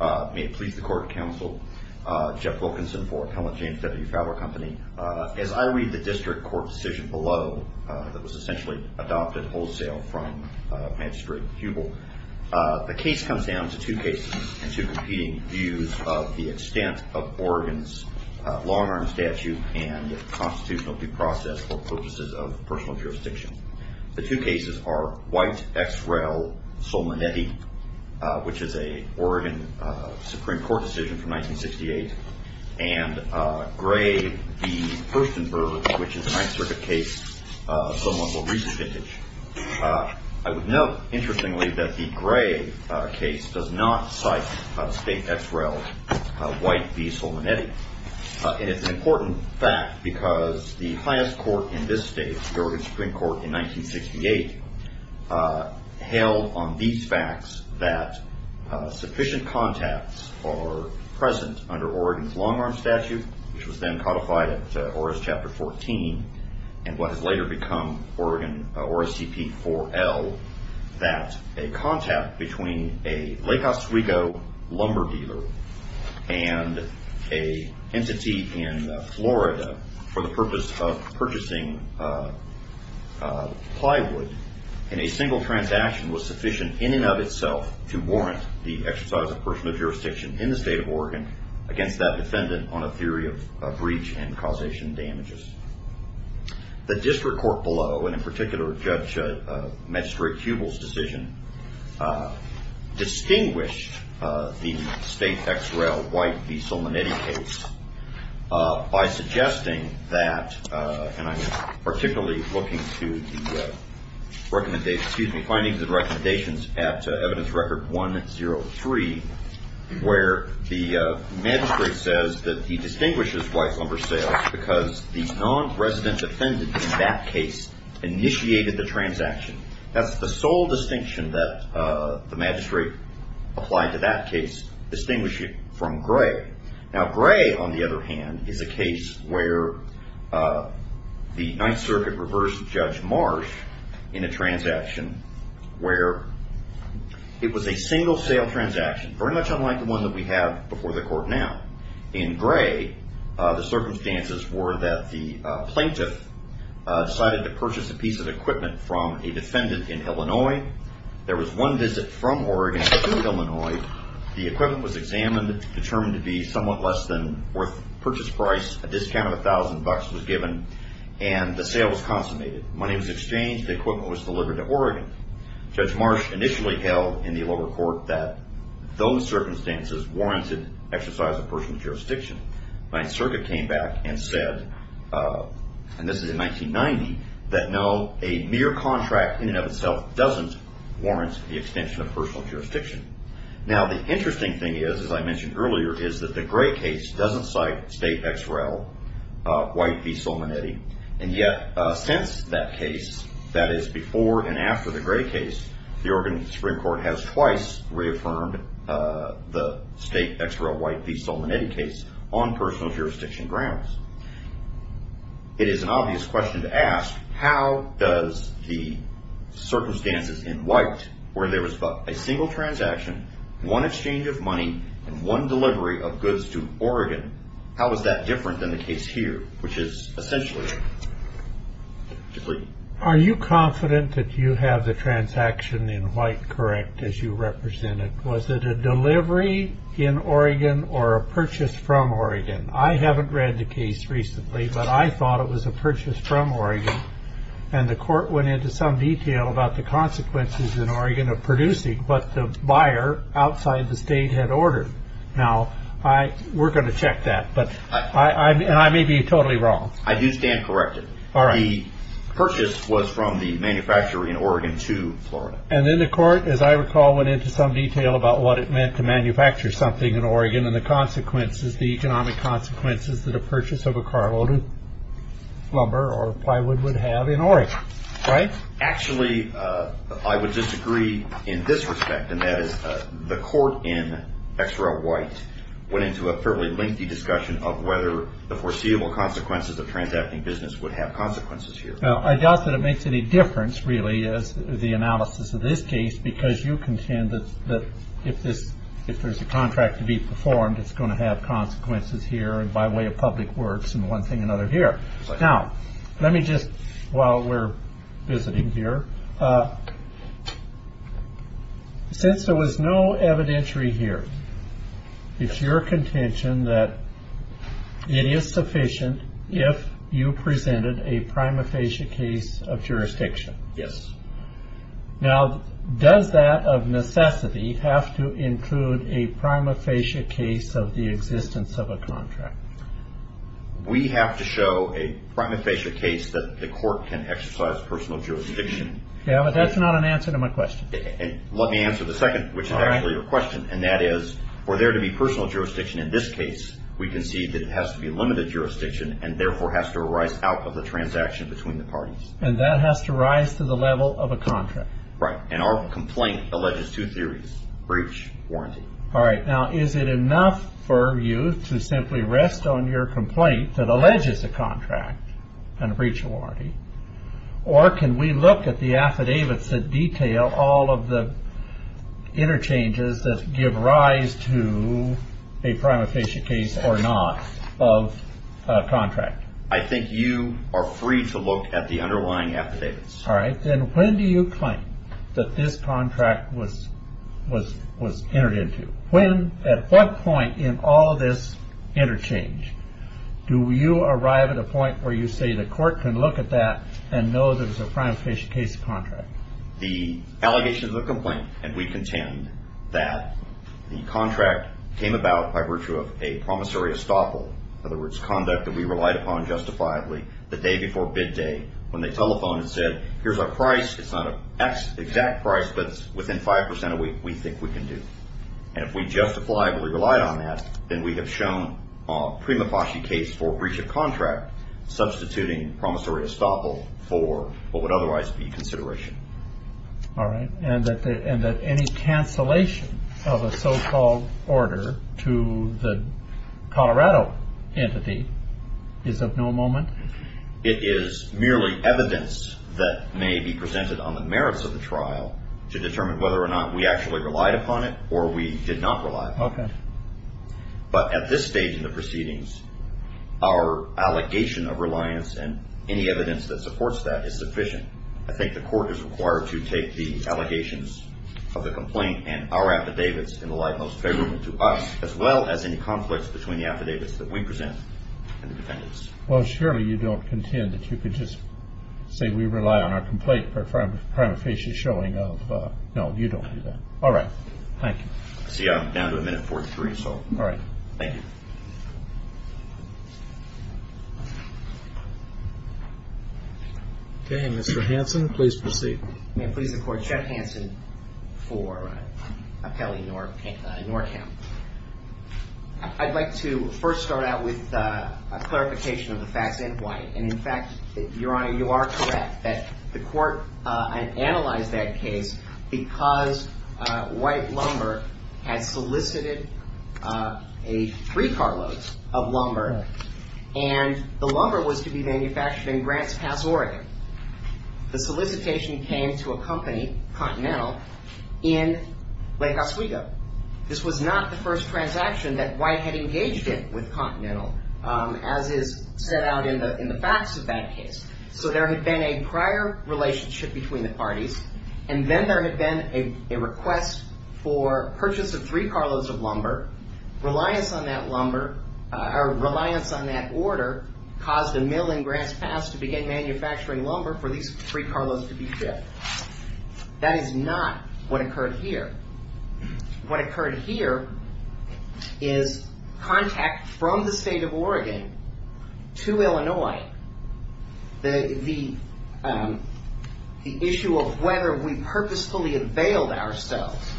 May it please the Court of Counsel, Jeff Wilkinson for Appellant James W. Fowler Company. As I read the district court decision below that was essentially adopted wholesale from Magistrate Hubel, the case comes down to two cases and two competing views of the extent of Oregon's long-arm statute and the constitutional due process for purposes of personal jurisdiction. The two cases are White v. Solmonetti, which is an Oregon Supreme Court decision from 1968, and Gray v. Hurstenburg, which is a Ninth Circuit case of somewhat more recent vintage. I would note, interestingly, that the Gray case does not cite State ex-rel White v. Solmonetti. And it's an important fact because the highest court in this state, the Oregon Supreme Court in 1968, held on these facts that sufficient contacts are present under Oregon's long-arm statute, which was then codified at ORAS Chapter 14 and what has later become ORAS CP 4L, that a contact between a Lake Oswego lumber dealer and an entity in Florida for the purpose of purchasing plywood in a single transaction was sufficient in and of itself to warrant the exercise of personal jurisdiction in the state of Oregon against that defendant on a theory of breach and causation damages. The district court below, and in particular Judge Magistrate Hubel's decision, distinguished the State ex-rel White v. Solmonetti case by suggesting that, and I'm particularly looking to the findings and recommendations at Evidence Record 103, where the magistrate says that he distinguishes White lumber sales because the non-resident defendant in that case initiated the transaction. That's the sole distinction that the magistrate applied to that case, distinguish it from Gray. Now, Gray, on the other hand, is a case where the Ninth Circuit reversed Judge Marsh in a transaction where it was a single sale transaction, very much unlike the one that we have before the court now. In Gray, the circumstances were that the plaintiff decided to purchase a piece of equipment from a defendant in Illinois. There was one visit from Oregon to Illinois. The equipment was examined, determined to be somewhat less than worth the purchase price. A discount of $1,000 was given, and the sale was consummated. Money was exchanged. The equipment was delivered to Oregon. Judge Marsh initially held in the lower court that those circumstances warranted exercise of personal jurisdiction. Ninth Circuit came back and said, and this is in 1990, that no, a mere contract in and of itself doesn't warrant the extension of personal jurisdiction. Now, the interesting thing is, as I mentioned earlier, is that the Gray case doesn't cite State ex-rel White v. Solmonetti, and yet since that case, that is before and after the Gray case, the Oregon Supreme Court has twice reaffirmed the State ex-rel White v. Solmonetti case on personal jurisdiction grounds. It is an obvious question to ask, how does the circumstances in White, where there was a single transaction, one exchange of money, and one delivery of goods to Oregon, how is that different than the case here, which is essentially complete? Are you confident that you have the transaction in White correct as you represent it? Was it a delivery in Oregon or a purchase from Oregon? I haven't read the case recently, but I thought it was a purchase from Oregon, and the court went into some detail about the consequences in Oregon of producing what the buyer outside the State had ordered. Now, we're going to check that, and I may be totally wrong. I do stand corrected. The purchase was from the manufacturer in Oregon to Florida. And then the court, as I recall, went into some detail about what it meant to manufacture something in Oregon and the economic consequences that a purchase of a carload of lumber or plywood would have in Oregon, right? Actually, I would disagree in this respect, and that is the court in XRO White went into a fairly lengthy discussion of whether the foreseeable consequences of transacting business would have consequences here. Now, I doubt that it makes any difference, really, as the analysis of this case, because you contend that if there's a contract to be performed, it's going to have consequences here and by way of public works and one thing or another here. Now, let me just, while we're visiting here, since there was no evidentiary here, it's your contention that it is sufficient if you presented a prima facie case of jurisdiction. Yes. Now, does that of necessity have to include a prima facie case of the existence of a contract? We have to show a prima facie case that the court can exercise personal jurisdiction. Yeah, but that's not an answer to my question. Let me answer the second, which is actually your question, and that is, for there to be personal jurisdiction in this case, we concede that it has to be limited jurisdiction and therefore has to arise out of the transaction between the parties. And that has to rise to the level of a contract. Right, and our complaint alleges two theories, breach, warranty. All right, now, is it enough for you to simply rest on your complaint that alleges a contract and a breach of warranty, or can we look at the affidavits that detail all of the interchanges that give rise to a prima facie case or not of a contract? I think you are free to look at the underlying affidavits. All right, then when do you claim that this contract was entered into? When, at what point in all this interchange do you arrive at a point where you say the court can look at that and know that it's a prima facie case of contract? The allegation is a complaint, and we contend that the contract came about by virtue of a promissory estoppel, in other words, conduct that we relied upon justifiably the day before bid day when they telephoned and said, here's our price. It's not an exact price, but it's within 5% of what we think we can do. And if we justifiably relied on that, then we have shown a prima facie case for breach of contract, substituting promissory estoppel for what would otherwise be consideration. All right, and that any cancellation of a so-called order to the Colorado entity is of no moment? It is merely evidence that may be presented on the merits of the trial to determine whether or not we actually relied upon it or we did not rely upon it. But at this stage in the proceedings, our allegation of reliance and any evidence that supports that is sufficient. I think the court is required to take the allegations of the complaint and our affidavits in the light most favorable to us, as well as any conflicts between the affidavits that we present and the defendants. Well, surely you don't contend that you could just say we rely on our complaint for a prima facie showing of, no, you don't do that. All right. Thank you. See, I'm down to a minute and 43, so. All right. Thank you. Okay, Mr. Hanson, please proceed. May it please the court, Jeff Hanson for appellee Norkamp. I'd like to first start out with a clarification of the facts in white. And, in fact, Your Honor, you are correct that the court analyzed that case because white lumber had solicited a free carload of lumber and the lumber was to be manufactured in Grants Pass, Oregon. The solicitation came to a company, Continental, in Lake Oswego. This was not the first transaction that white had engaged in with Continental, as is set out in the facts of that case. So there had been a prior relationship between the parties, and then there had been a request for purchase of free carloads of lumber. Reliance on that order caused a mill in Grants Pass to begin manufacturing lumber for these free carloads to be shipped. That is not what occurred here. What occurred here is contact from the state of Oregon to Illinois. The issue of whether we purposefully availed ourselves,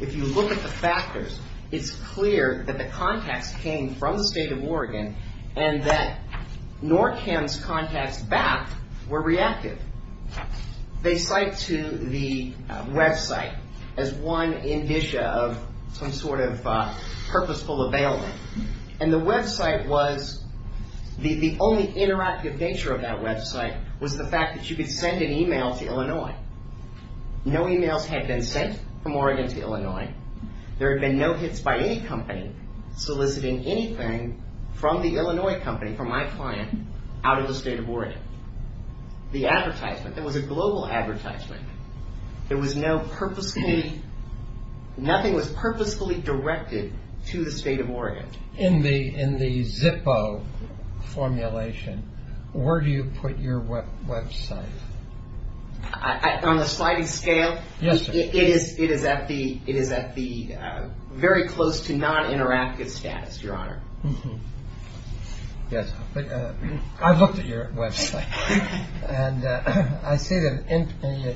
if you look at the factors, it's clear that the contacts came from the state of Oregon and that Norkamp's contacts back were reactive. They cite to the website as one indicia of some sort of purposeful availment. And the website was, the only interactive nature of that website was the fact that you could send an email to Illinois. No emails had been sent from Oregon to Illinois. There had been no hits by any company soliciting anything from the Illinois company, from my client, out of the state of Oregon. The advertisement, it was a global advertisement. There was no purposefully, nothing was purposefully directed to the state of Oregon. In the Zippo formulation, where do you put your website? On a sliding scale, it is at the very close to non-interactive status, Your Honor. Yes, I've looked at your website. And I see that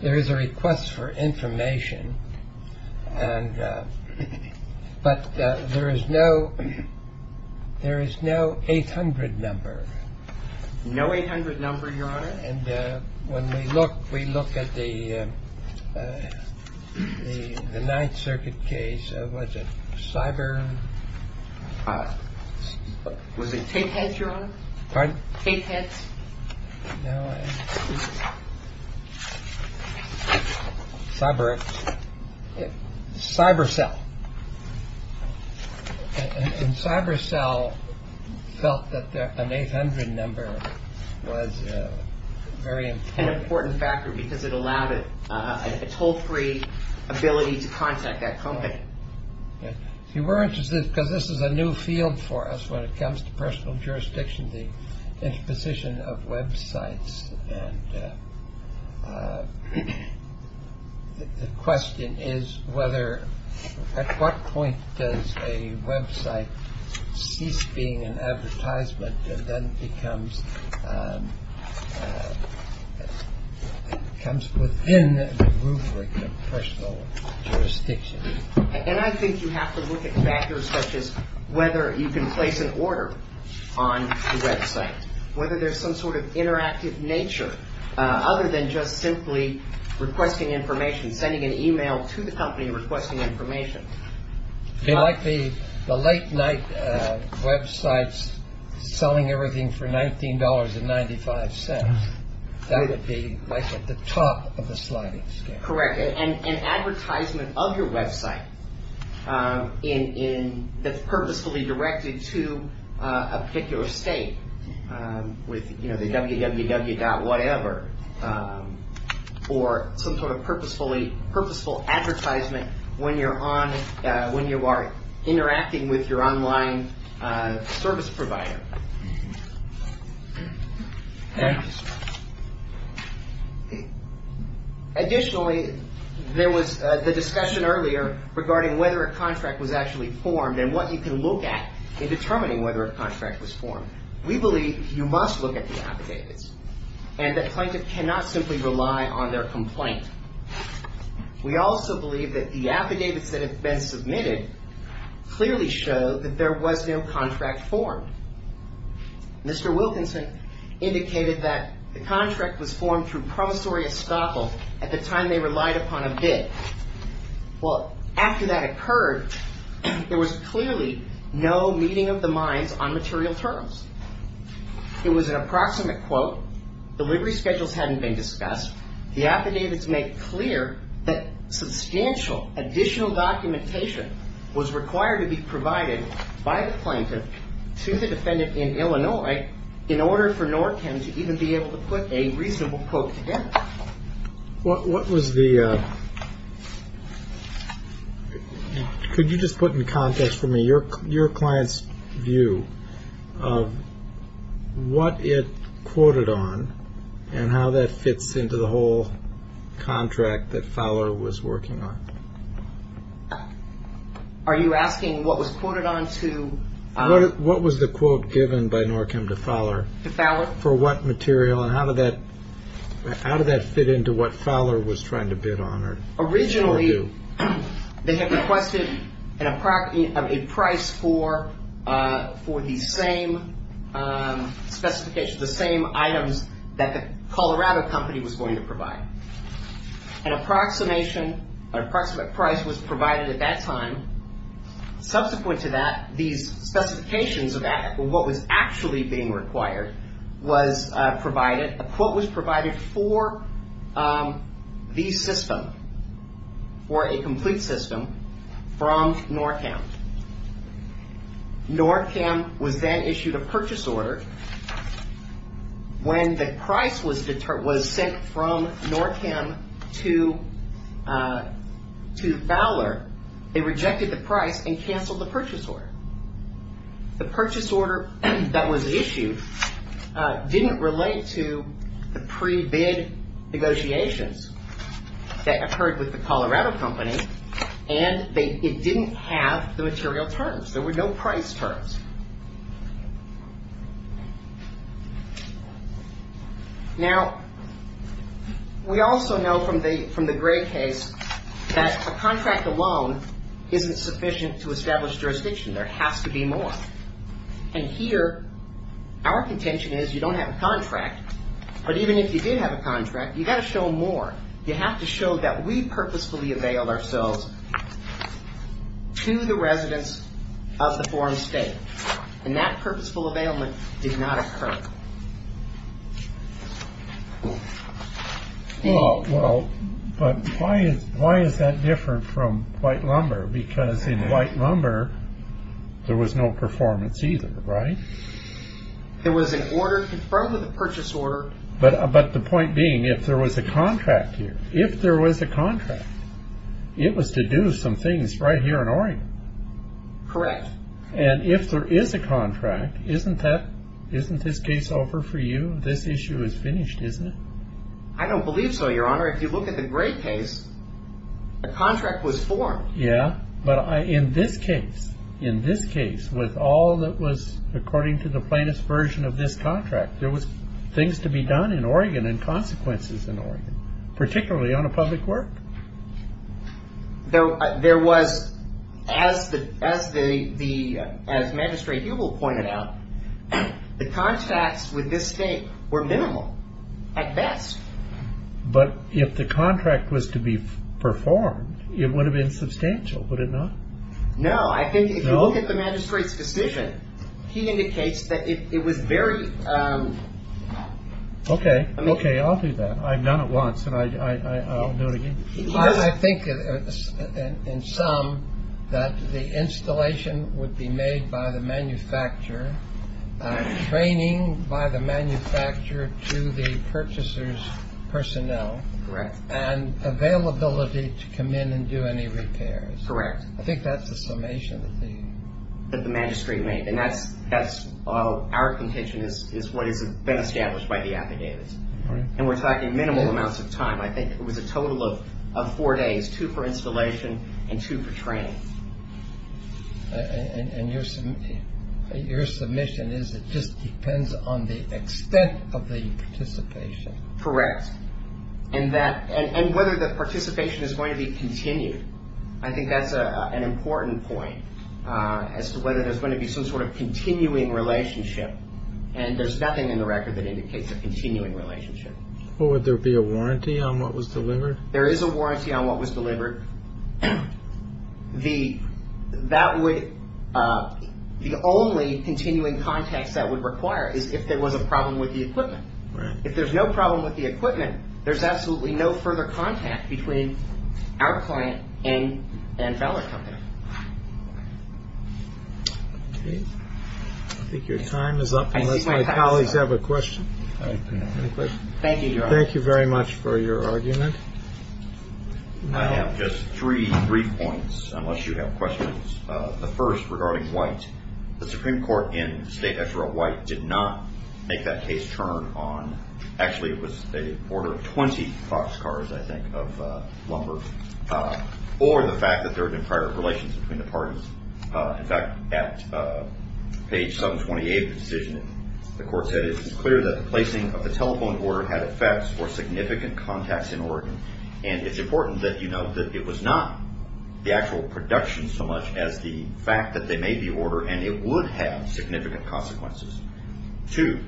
there is a request for information, but there is no 800 number. No 800 number, Your Honor. And when we look, we look at the Ninth Circuit case. It was a cyber. Was it tape heads, Your Honor? Pardon? Tape heads. Cyber. Cyber cell. And cyber cell felt that an 800 number was very important. An important factor because it allowed it a toll-free ability to contact that company. If you were interested, because this is a new field for us when it comes to personal jurisdiction, the imposition of websites. And the question is whether, at what point does a website cease being an advertisement and then becomes, comes within the rubric of personal jurisdiction? And I think you have to look at factors such as whether you can place an order on the website. Whether there's some sort of interactive nature other than just simply requesting information, sending an e-mail to the company requesting information. It might be the late night websites selling everything for $19.95. That would be like at the top of the sliding scale. Correct. And advertisement of your website in, that's purposefully directed to a particular state with, you know, the www.whatever. Or some sort of purposefully, purposeful advertisement when you're on, when you are interacting with your online service provider. Thank you, sir. Additionally, there was the discussion earlier regarding whether a contract was actually formed and what you can look at in determining whether a contract was formed. We believe you must look at the affidavits and that plaintiff cannot simply rely on their complaint. We also believe that the affidavits that have been submitted clearly show that there was no contract formed. Mr. Wilkinson indicated that the contract was formed through promissory estoppel at the time they relied upon a bid. Well, after that occurred, there was clearly no meeting of the minds on material terms. It was an approximate quote. Delivery schedules hadn't been discussed. The affidavits make clear that substantial additional documentation was required to be provided by the plaintiff to the defendant in Illinois in order for NORCM to even be able to put a reasonable quote together. What was the, could you just put in context for me your client's view of what it quoted on and how that fits into the whole contract that Fowler was working on? Are you asking what was quoted on to? What was the quote given by NORCM to Fowler? To Fowler. For what material and how did that fit into what Fowler was trying to bid on? Originally, they had requested a price for the same specifications, the same items that the Colorado company was going to provide. An approximation, an approximate price was provided at that time. Subsequent to that, these specifications of what was actually being required was provided. A quote was provided for the system, for a complete system from NORCM. NORCM was then issued a purchase order. When the price was sent from NORCM to Fowler, they rejected the price and canceled the purchase order. The purchase order that was issued didn't relate to the pre-bid negotiations that occurred with the Colorado company and it didn't have the material terms. There were no price terms. Now, we also know from the Gray case that a contract alone isn't sufficient to establish jurisdiction. There has to be more. And here, our contention is you don't have a contract, but even if you did have a contract, you've got to show more. You have to show that we purposefully availed ourselves to the residents of the foreign state. And that purposeful availment did not occur. Well, but why is that different from white lumber? Because in white lumber, there was no performance either, right? There was an order confirmed with a purchase order. But the point being, if there was a contract here, if there was a contract, it was to do some things right here in Oregon. Correct. And if there is a contract, isn't that, isn't this case over for you? This issue is finished, isn't it? I don't believe so, Your Honor. If you look at the Gray case, a contract was formed. Yeah, but in this case, in this case, with all that was according to the plainest version of this contract, there was things to be done in Oregon and consequences in Oregon, particularly on a public work. Though there was as the as the as Magistrate Hubel pointed out, the contracts with this state were minimal at best. But if the contract was to be performed, it would have been substantial, would it not? No, I think if you look at the magistrate's decision, he indicates that it was very. OK. OK, I'll do that. I've done it once and I'll do it again. I think in some that the installation would be made by the manufacturer training by the manufacturer to the purchaser's personnel. Correct. And availability to come in and do any repairs. Correct. I think that's the summation of the. And that's that's our contention is what has been established by the affidavits. And we're talking minimal amounts of time. I think it was a total of four days, two for installation and two for training. And your your submission is it just depends on the extent of the participation. Correct. And that and whether the participation is going to be continued. I think that's an important point as to whether there's going to be some sort of continuing relationship. And there's nothing in the record that indicates a continuing relationship. Would there be a warranty on what was delivered? There is a warranty on what was delivered. The that would be the only continuing contacts that would require is if there was a problem with the equipment. Right. If there's no problem with the equipment, there's absolutely no further contact between our client and and feller company. I think your time is up. My colleagues have a question. Thank you. Thank you very much for your argument. I have just three brief points. Unless you have questions. The first regarding white, the Supreme Court in the state after a white did not make that case turn on. Actually, it was a order of 20 boxcars, I think, of lumber or the fact that there have been private relations between the parties. In fact, at page 728 decision, the court said it was clear that the placing of the telephone order had effects for significant contacts in Oregon. And it's important that you know that it was not the actual production so much as the fact that they made the order. And it would have significant consequences to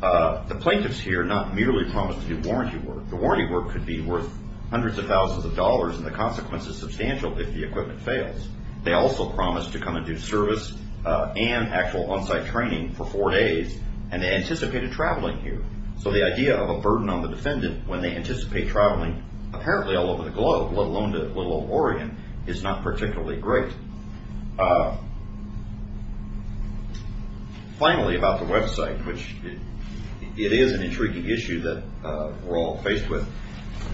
the plaintiffs here, not merely promised to do warranty work. The warranty work could be worth hundreds of thousands of dollars. And the consequence is substantial. If the equipment fails, they also promised to come and do service and actual onsite training for four days. And they anticipated traveling here. So the idea of a burden on the defendant when they anticipate traveling apparently all over the globe, let alone to little Oregon, is not particularly great. Finally, about the website, which it is an intriguing issue that we're all faced with.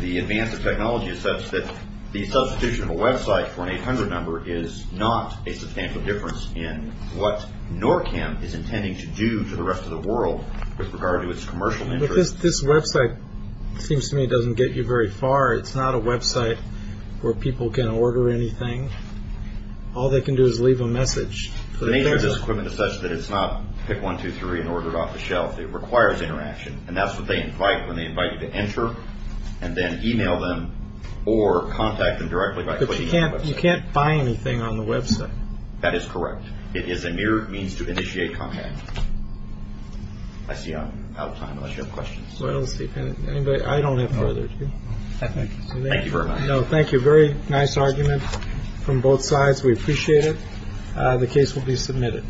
The advance of technology is such that the substitution of a website for an 800 number is not a substantial difference in what NORCAM is intending to do to the rest of the world with regard to its commercial interest. This website seems to me doesn't get you very far. It's not a website where people can order anything. All they can do is leave a message. The nature of this equipment is such that it's not pick one, two, three and order it off the shelf. It requires interaction. And that's what they invite when they invite you to enter and then email them or contact them directly. But you can't buy anything on the website. That is correct. It is a mere means to initiate contact. I see I'm out of time unless you have questions. Well, let's see. I don't have further. Thank you very much. No, thank you. Very nice argument from both sides. We appreciate it. The case will be submitted.